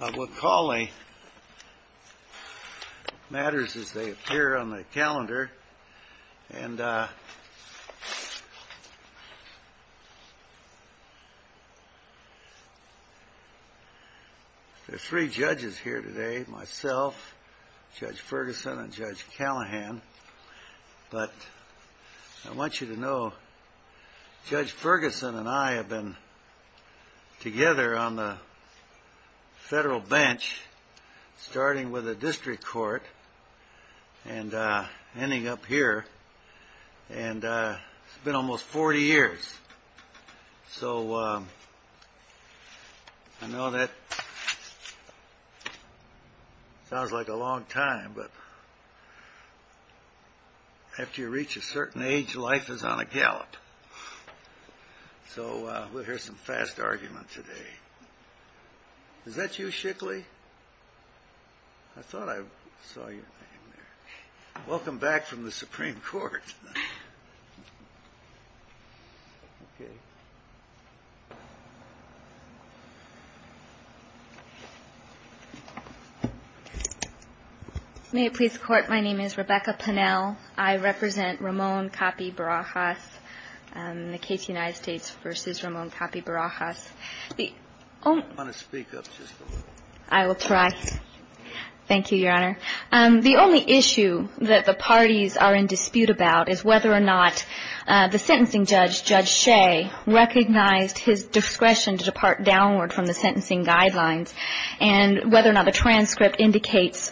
McCauley matters as they appear on the calendar, and there are three judges here today. Myself, Judge Ferguson, and Judge Callahan. But I want you to know Judge Ferguson and I have been together on the federal bench starting with the district court and ending up here. And it's been almost 40 years. So I know that sounds like a long time, but after you reach a certain age, life is on a gallop. So we'll hear some fast argument today. Is that you, Shickley? I thought I saw your name there. Welcome back from the Supreme Court. May it please the Court, my name is Rebecca Pinnell. I represent Ramon Capi-Barajas, the case United States v. Ramon Capi-Barajas. The only issue that the parties are in dispute about is whether or not the sentencing judge, Judge Shea, recognized his discretion to depart downward from the sentencing guidelines and whether or not the transcript indicates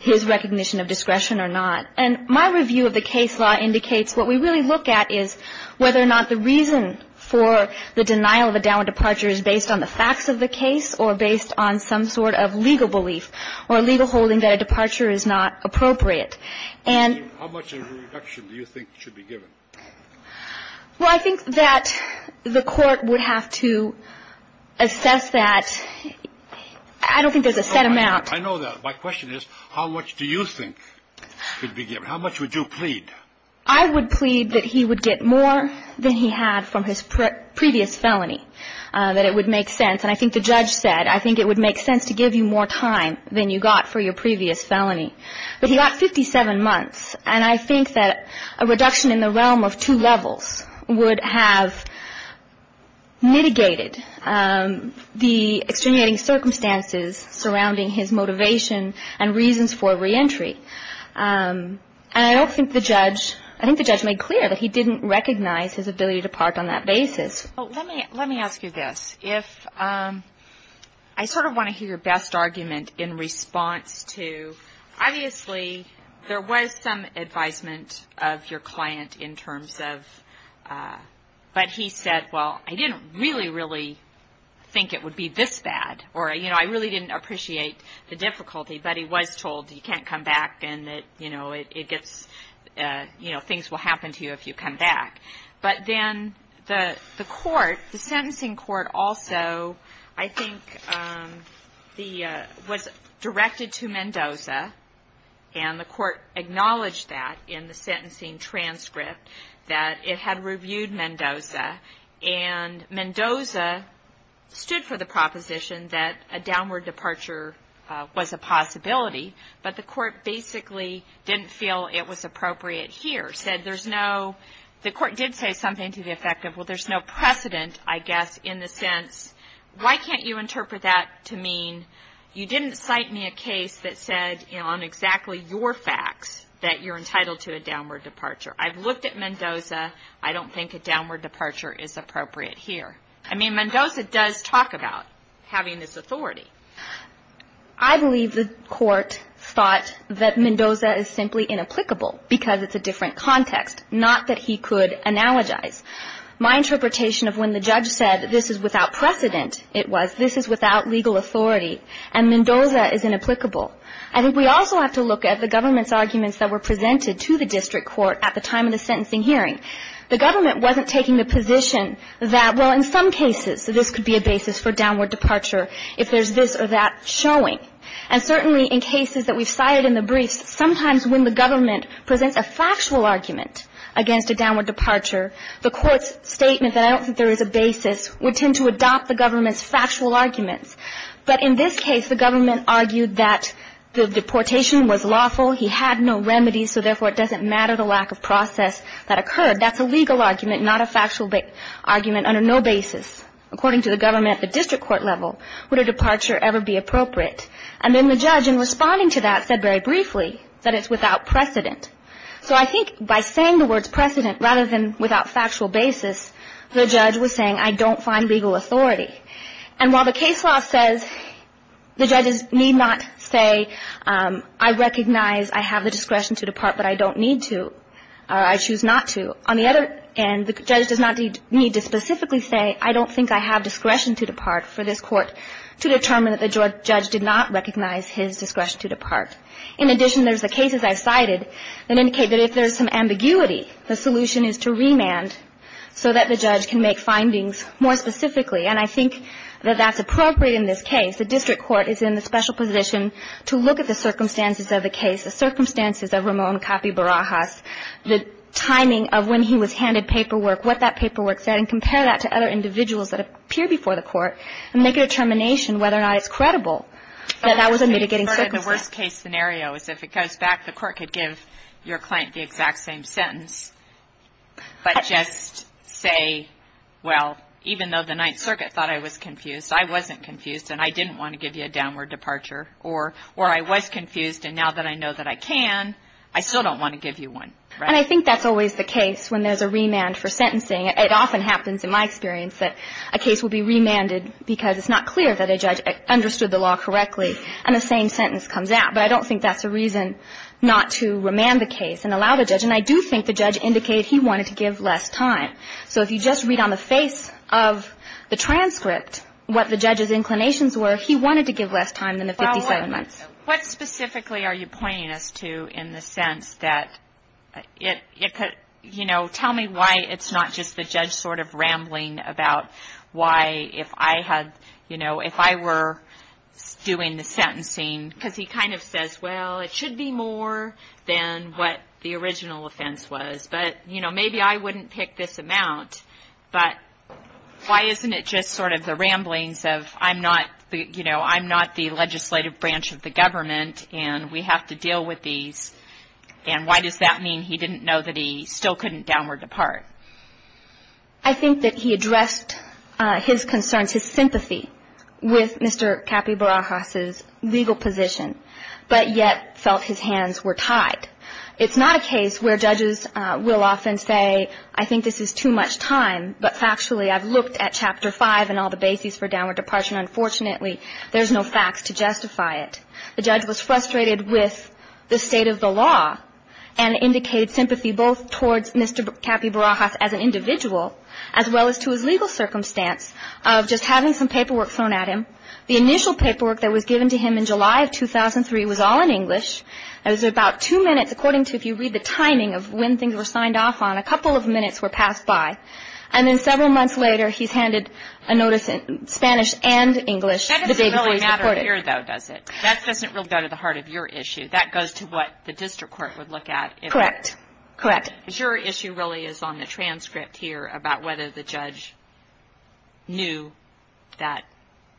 his recognition of discretion or not. And my review of the case law indicates what we really look at is whether or not the reason for the denial of a downward departure is based on the facts of the case or based on some sort of legal belief or legal holding that a departure is not appropriate. And how much of a reduction do you think should be given? Well, I think that the Court would have to assess that. I don't think there's a set amount. I know that. My question is, how much do you think should be given? How much would you plead? I would plead that he would get more than he had from his previous felony, that it would make sense. And I think the judge said, I think it would make sense to give you more time than you got for your previous felony. But he got 57 months, and I think that a reduction in the realm of two levels would have mitigated the extenuating circumstances surrounding his motivation and reasons for reentry. And I don't think the judge – I think the judge made clear that he didn't recognize his ability to depart on that basis. Let me ask you this. If – I sort of want to hear your best argument in response to – obviously, there was some advisement of your client in terms of – but he said, well, I didn't really, really think it would be this bad. Or, you know, I really didn't appreciate the difficulty, but he was told you can't come back and that, you know, it gets – things will happen to you if you come back. But then the court, the sentencing court also, I think, was directed to Mendoza, and the court acknowledged that in the sentencing transcript, that it had reviewed Mendoza. And Mendoza stood for the proposition that a downward departure was a possibility, but the court basically didn't feel it was appropriate here, said there's no – the court did say something to the effect of, well, there's no precedent, I guess, in the sense, why can't you interpret that to mean you didn't cite me a case that said, you know, on exactly your facts, that you're entitled to a downward departure. I've looked at Mendoza. I don't think a downward departure is appropriate here. I mean, Mendoza does talk about having this authority. I believe the court thought that Mendoza is simply inapplicable because it's a different context, not that he could analogize. My interpretation of when the judge said this is without precedent, it was this is without legal authority, and Mendoza is inapplicable. I think we also have to look at the government's arguments that were presented to the district court at the time of the sentencing hearing. The government wasn't taking the position that, well, in some cases, this could be a basis for downward departure if there's this or that showing. And certainly in cases that we've cited in the briefs, sometimes when the government presents a factual argument against a downward departure, the court's statement that I don't think there is a basis would tend to adopt the government's factual arguments. But in this case, the government argued that the deportation was lawful. He had no remedies, so therefore it doesn't matter the lack of process that occurred. That's a legal argument, not a factual argument under no basis. According to the government at the district court level, would a departure ever be appropriate? And then the judge, in responding to that, said very briefly that it's without precedent. So I think by saying the words precedent rather than without factual basis, the judge was saying I don't find legal authority. And while the case law says the judges need not say I recognize I have the discretion to depart, but I don't need to or I choose not to, on the other end, the judge does not need to specifically say I don't think I have discretion to depart for this court to determine that the judge did not recognize his discretion to depart. In addition, there's the cases I've cited that indicate that if there's some ambiguity, the solution is to remand so that the judge can make findings more specifically. And I think that that's appropriate in this case. The district court is in the special position to look at the circumstances of the case, the circumstances of Ramon Capi Barajas, the timing of when he was handed paperwork, what that paperwork said, and compare that to other individuals that appear before the court and make a determination whether or not it's credible that that was a mitigating circumstance. The worst case scenario is if it goes back, the court could give your client the exact same sentence, but just say, well, even though the Ninth Circuit thought I was confused, I wasn't confused, and I didn't want to give you a downward departure. Or I was confused, and now that I know that I can, I still don't want to give you one. And I think that's always the case when there's a remand for sentencing. It often happens in my experience that a case will be remanded because it's not clear that a judge understood the law correctly and the same sentence comes out. But I don't think that's a reason not to remand the case and allow the judge. And I do think the judge indicated he wanted to give less time. So if you just read on the face of the transcript what the judge's inclinations were, he wanted to give less time than the 57 months. Well, what specifically are you pointing us to in the sense that it could, you know, tell me why it's not just the judge sort of rambling about why if I had, you know, if I were doing the sentencing, because he kind of says, well, it should be more than what the original offense was, but, you know, maybe I wouldn't pick this amount, but why isn't it just sort of the ramblings of I'm not, you know, I'm not the legislative branch of the government and we have to deal with these? And why does that mean he didn't know that he still couldn't downward depart? I think that he addressed his concerns, his sympathy with Mr. Capybarajas' legal position, but yet felt his hands were tied. It's not a case where judges will often say, I think this is too much time, but factually I've looked at Chapter 5 and all the bases for downward departure, and unfortunately there's no facts to justify it. The judge was frustrated with the state of the law and indicated sympathy both towards Mr. Capybarajas as an individual as well as to his legal circumstance of just having some paperwork thrown at him. The initial paperwork that was given to him in July of 2003 was all in English. It was about two minutes according to, if you read the timing of when things were signed off on, a couple of minutes were passed by. And then several months later he's handed a notice in Spanish and English. That doesn't really matter here, though, does it? That doesn't really go to the heart of your issue. That goes to what the district court would look at. Correct. Correct. Your issue really is on the transcript here about whether the judge knew that,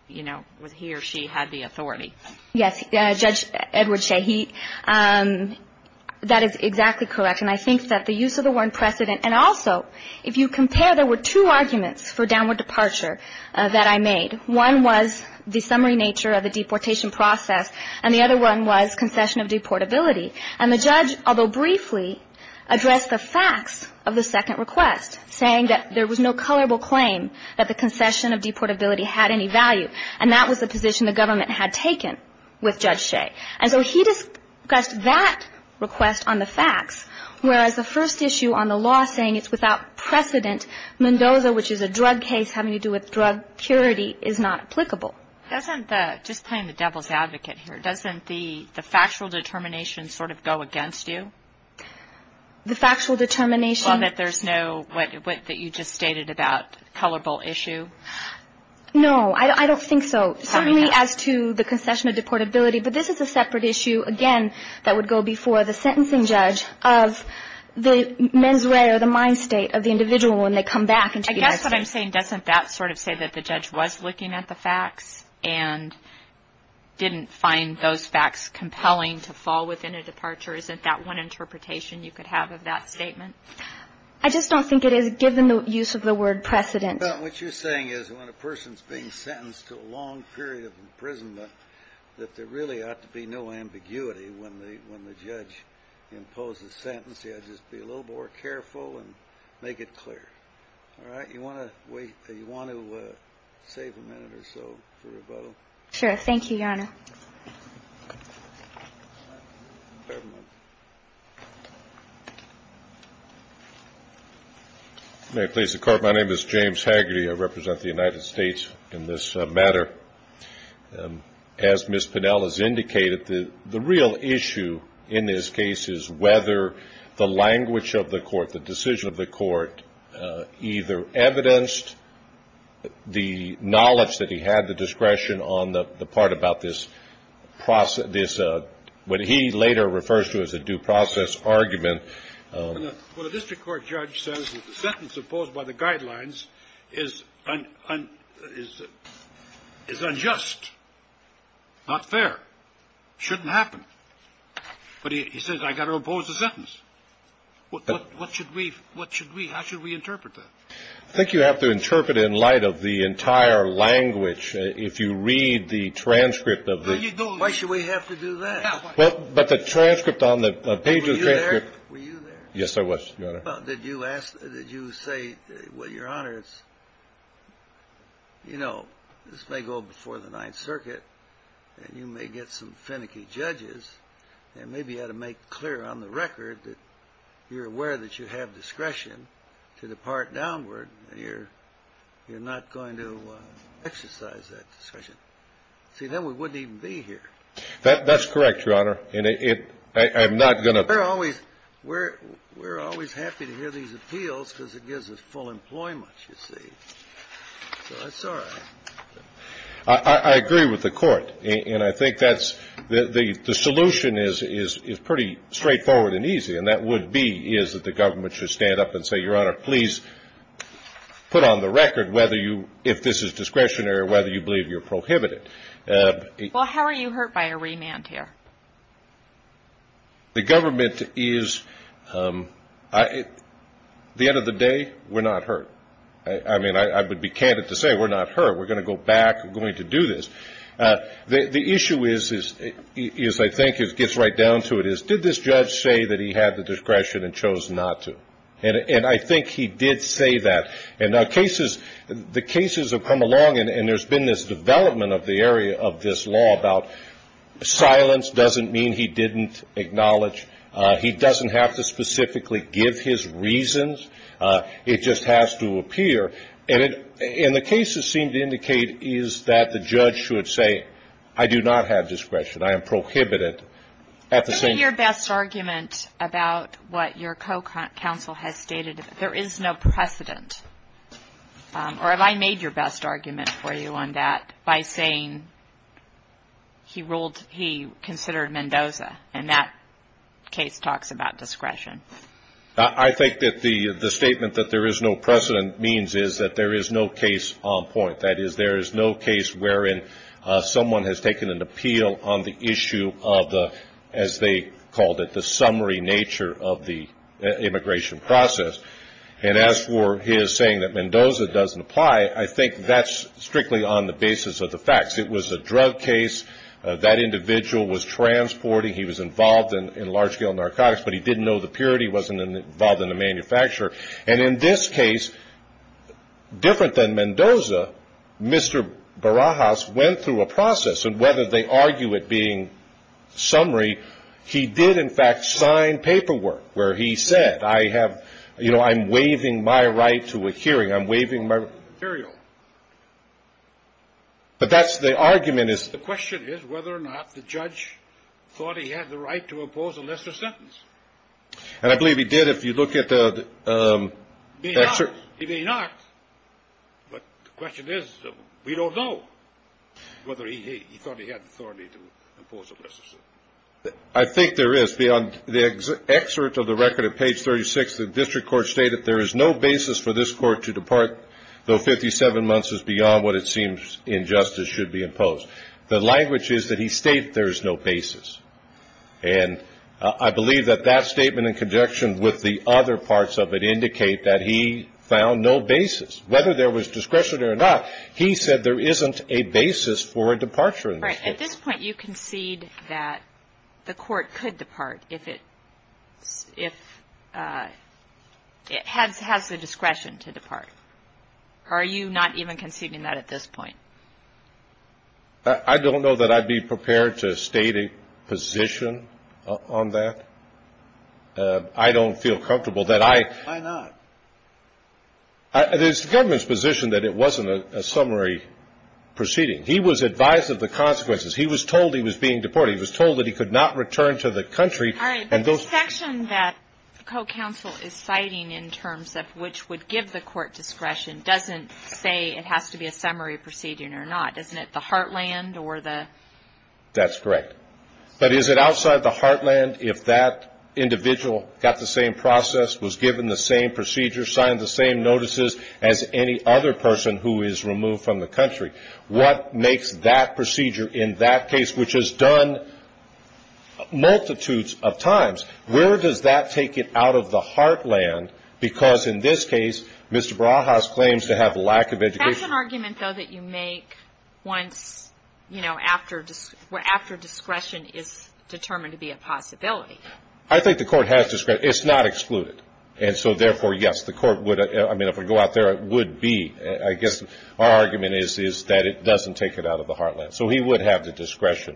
you know, he or she had the authority. Yes, Judge Edward Shaheed, that is exactly correct. And I think that the use of the word precedent, and also if you compare, there were two arguments for downward departure that I made. One was the summary nature of the deportation process, and the other one was concession of deportability. And the judge, although briefly, addressed the facts of the second request, saying that there was no colorable claim that the concession of deportability had any value, and that was the position the government had taken with Judge Shea. And so he discussed that request on the facts, whereas the first issue on the law saying it's without precedent, Mendoza, which is a drug case having to do with drug purity, is not applicable. Doesn't the, just playing the devil's advocate here, doesn't the factual determination sort of go against you? The factual determination? Well, that there's no, what you just stated about colorable issue? No, I don't think so. Certainly as to the concession of deportability, but this is a separate issue, again, that would go before the sentencing judge of the mens rea or the mind state of the individual when they come back. I guess what I'm saying, doesn't that sort of say that the judge was looking at the facts and didn't find those facts compelling to fall within a departure? Isn't that one interpretation you could have of that statement? I just don't think it is, given the use of the word precedent. What you're saying is when a person's being sentenced to a long period of imprisonment, that there really ought to be no ambiguity when the judge imposes sentences. Just be a little more careful and make it clear. All right? You want to save a minute or so for rebuttal? Sure. Thank you, Your Honor. May I please have the court? My name is James Hagerty. I represent the United States in this matter. As Ms. Pinnell has indicated, the real issue in this case is whether the language of the court, the decision of the court, either evidenced the knowledge that he had, the discretion on the part about this, what he later refers to as a due process argument. Well, the district court judge says that the sentence imposed by the guidelines is unjust, not fair, shouldn't happen. But he says I've got to impose a sentence. What should we, how should we interpret that? I think you have to interpret it in light of the entire language. If you read the transcript of the. Why should we have to do that? But the transcript on the page of the transcript. Were you there? Yes, I was, Your Honor. Did you say, well, Your Honor, it's, you know, this may go before the Ninth Circuit, and you may get some finicky judges, and maybe you ought to make clear on the record that you're aware that you have discretion to depart downward, and you're not going to exercise that discretion. See, then we wouldn't even be here. That's correct, Your Honor. And I'm not going to. We're always happy to hear these appeals because it gives us full employment, you see. So that's all right. I agree with the court. And I think that's the solution is pretty straightforward and easy, and that would be is that the government should stand up and say, Your Honor, please put on the record whether you, if this is discretionary, whether you believe you're prohibited. Well, how are you hurt by a remand here? The government is, at the end of the day, we're not hurt. I mean, I would be candid to say we're not hurt. We're going to go back. We're going to do this. The issue is, I think, it gets right down to it, is did this judge say that he had the discretion and chose not to? And I think he did say that. And now cases, the cases have come along, and there's been this development of the area of this law about silence doesn't mean he didn't acknowledge. He doesn't have to specifically give his reasons. It just has to appear. And the cases seem to indicate is that the judge should say, I do not have discretion. I am prohibited at the same time. Give me your best argument about what your co-counsel has stated. There is no precedent. Or have I made your best argument for you on that by saying he ruled he considered Mendoza, and that case talks about discretion? I think that the statement that there is no precedent means is that there is no case on point. That is, there is no case wherein someone has taken an appeal on the issue of the, as they called it, the summary nature of the immigration process. And as for his saying that Mendoza doesn't apply, I think that's strictly on the basis of the facts. It was a drug case. That individual was transporting. He was involved in large-scale narcotics. But he didn't know the purity. He wasn't involved in the manufacture. And in this case, different than Mendoza, Mr. Barajas went through a process. And whether they argue it being summary, he did, in fact, sign paperwork where he said, I have, you know, I'm waiving my right to a hearing. I'm waiving my right. But that's the argument is. The question is whether or not the judge thought he had the right to impose a lesser sentence. And I believe he did. If you look at the excerpt. He may not. But the question is, we don't know whether he thought he had the authority to impose a lesser sentence. I think there is. Beyond the excerpt of the record at page 36, the district court stated there is no basis for this court to depart, though 57 months is beyond what it seems injustice should be imposed. The language is that he stated there is no basis. And I believe that that statement in conjunction with the other parts of it indicate that he found no basis. Whether there was discretion or not, he said there isn't a basis for a departure in this case. At this point, you concede that the court could depart if it has the discretion to depart. Are you not even conceding that at this point? I don't know that I'd be prepared to state a position on that. I don't feel comfortable that I. Why not? It is the government's position that it wasn't a summary proceeding. He was advised of the consequences. He was told he was being deported. He was told that he could not return to the country. All right. But the section that the co-counsel is citing in terms of which would give the court discretion doesn't say it has to be a summary proceeding or not, doesn't it? The heartland or the. That's correct. But is it outside the heartland if that individual got the same process, was given the same procedure, signed the same notices as any other person who is removed from the country? What makes that procedure in that case, which is done multitudes of times, where does that take it out of the heartland? Because in this case, Mr. Barajas claims to have lack of education. That's an argument, though, that you make once, you know, after discretion is determined to be a possibility. I think the court has discretion. It's not excluded. And so, therefore, yes, the court would. I mean, if we go out there, it would be. I guess our argument is that it doesn't take it out of the heartland. So he would have the discretion.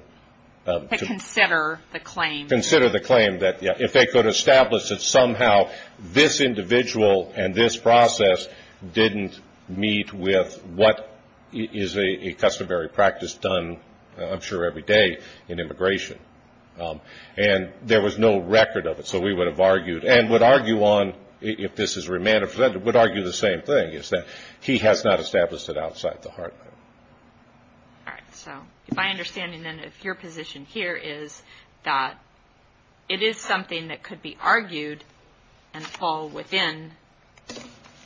But consider the claim. Consider the claim that, yeah, if they could establish that somehow this individual and this process didn't meet with what is a customary practice done, I'm sure, every day in immigration. And there was no record of it. So we would have argued and would argue on, if this is remanded for that, we would argue the same thing, is that he has not established it outside the heartland. All right. So my understanding, then, of your position here is that it is something that could be argued and fall within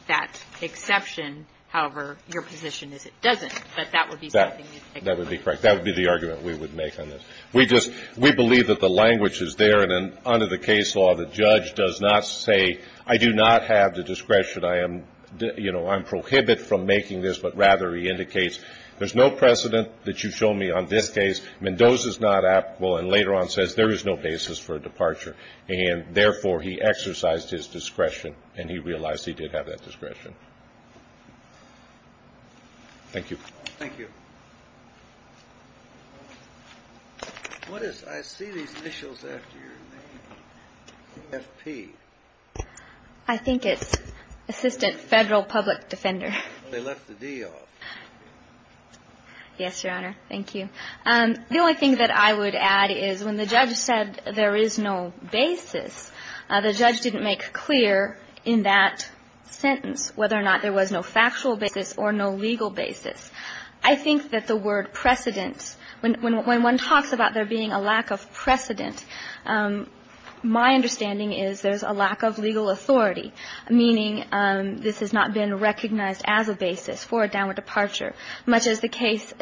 that exception. However, your position is it doesn't. But that would be something you'd take away. That would be correct. That would be the argument we would make on this. We just we believe that the language is there. And under the case law, the judge does not say, I do not have the discretion. I am, you know, I'm prohibited from making this. But, rather, he indicates there's no precedent that you've shown me on this case. Mendoza's not applicable. And later on says there is no basis for a departure. And, therefore, he exercised his discretion and he realized he did have that discretion. Thank you. Thank you. I see these initials after your name. F.P. I think it's Assistant Federal Public Defender. They left the D off. Yes, Your Honor. Thank you. The only thing that I would add is when the judge said there is no basis, the judge didn't make clear in that sentence whether or not there was no factual basis or no legal basis. I think that the word precedent, when one talks about there being a lack of precedent, my understanding is there's a lack of legal authority, meaning this has not been recognized as a basis for a downward departure, much as the case,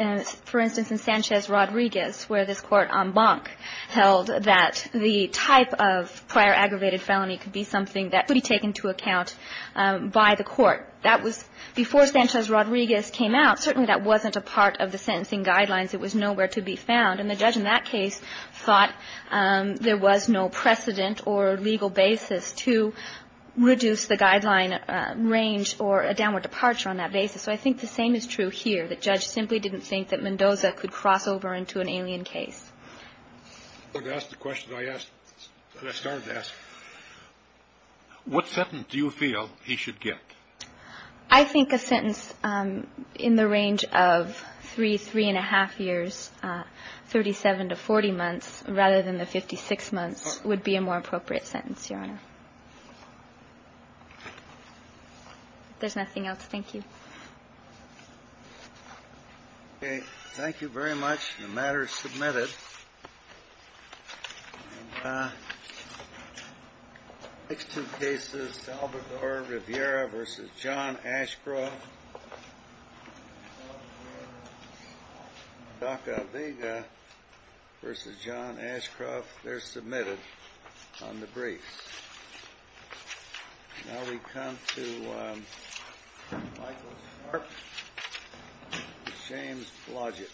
for instance, in Sanchez Rodriguez, where this Court en banc held that the type of prior aggravated felony could be something that could be taken into account by the Court. That was before Sanchez Rodriguez came out. Certainly, that wasn't a part of the sentencing guidelines. It was nowhere to be found. And the judge in that case thought there was no precedent or legal basis to reduce the guideline range or a downward departure on that basis. So I think the same is true here, that Judge simply didn't think that Mendoza could cross over into an alien case. But that's the question I asked, that I started to ask. What sentence do you feel he should get? I think a sentence in the range of three, three-and-a-half years, 37 to 40 months rather than the 56 months would be a more appropriate sentence, Your Honor. If there's nothing else, thank you. Okay. The matter is submitted. And the next two cases, Salvador Rivera v. John Ashcroft. Salvador Rivera v. John Ashcroft, they're submitted on the briefs. Now we come to Michael Sharp v. James Blodgett.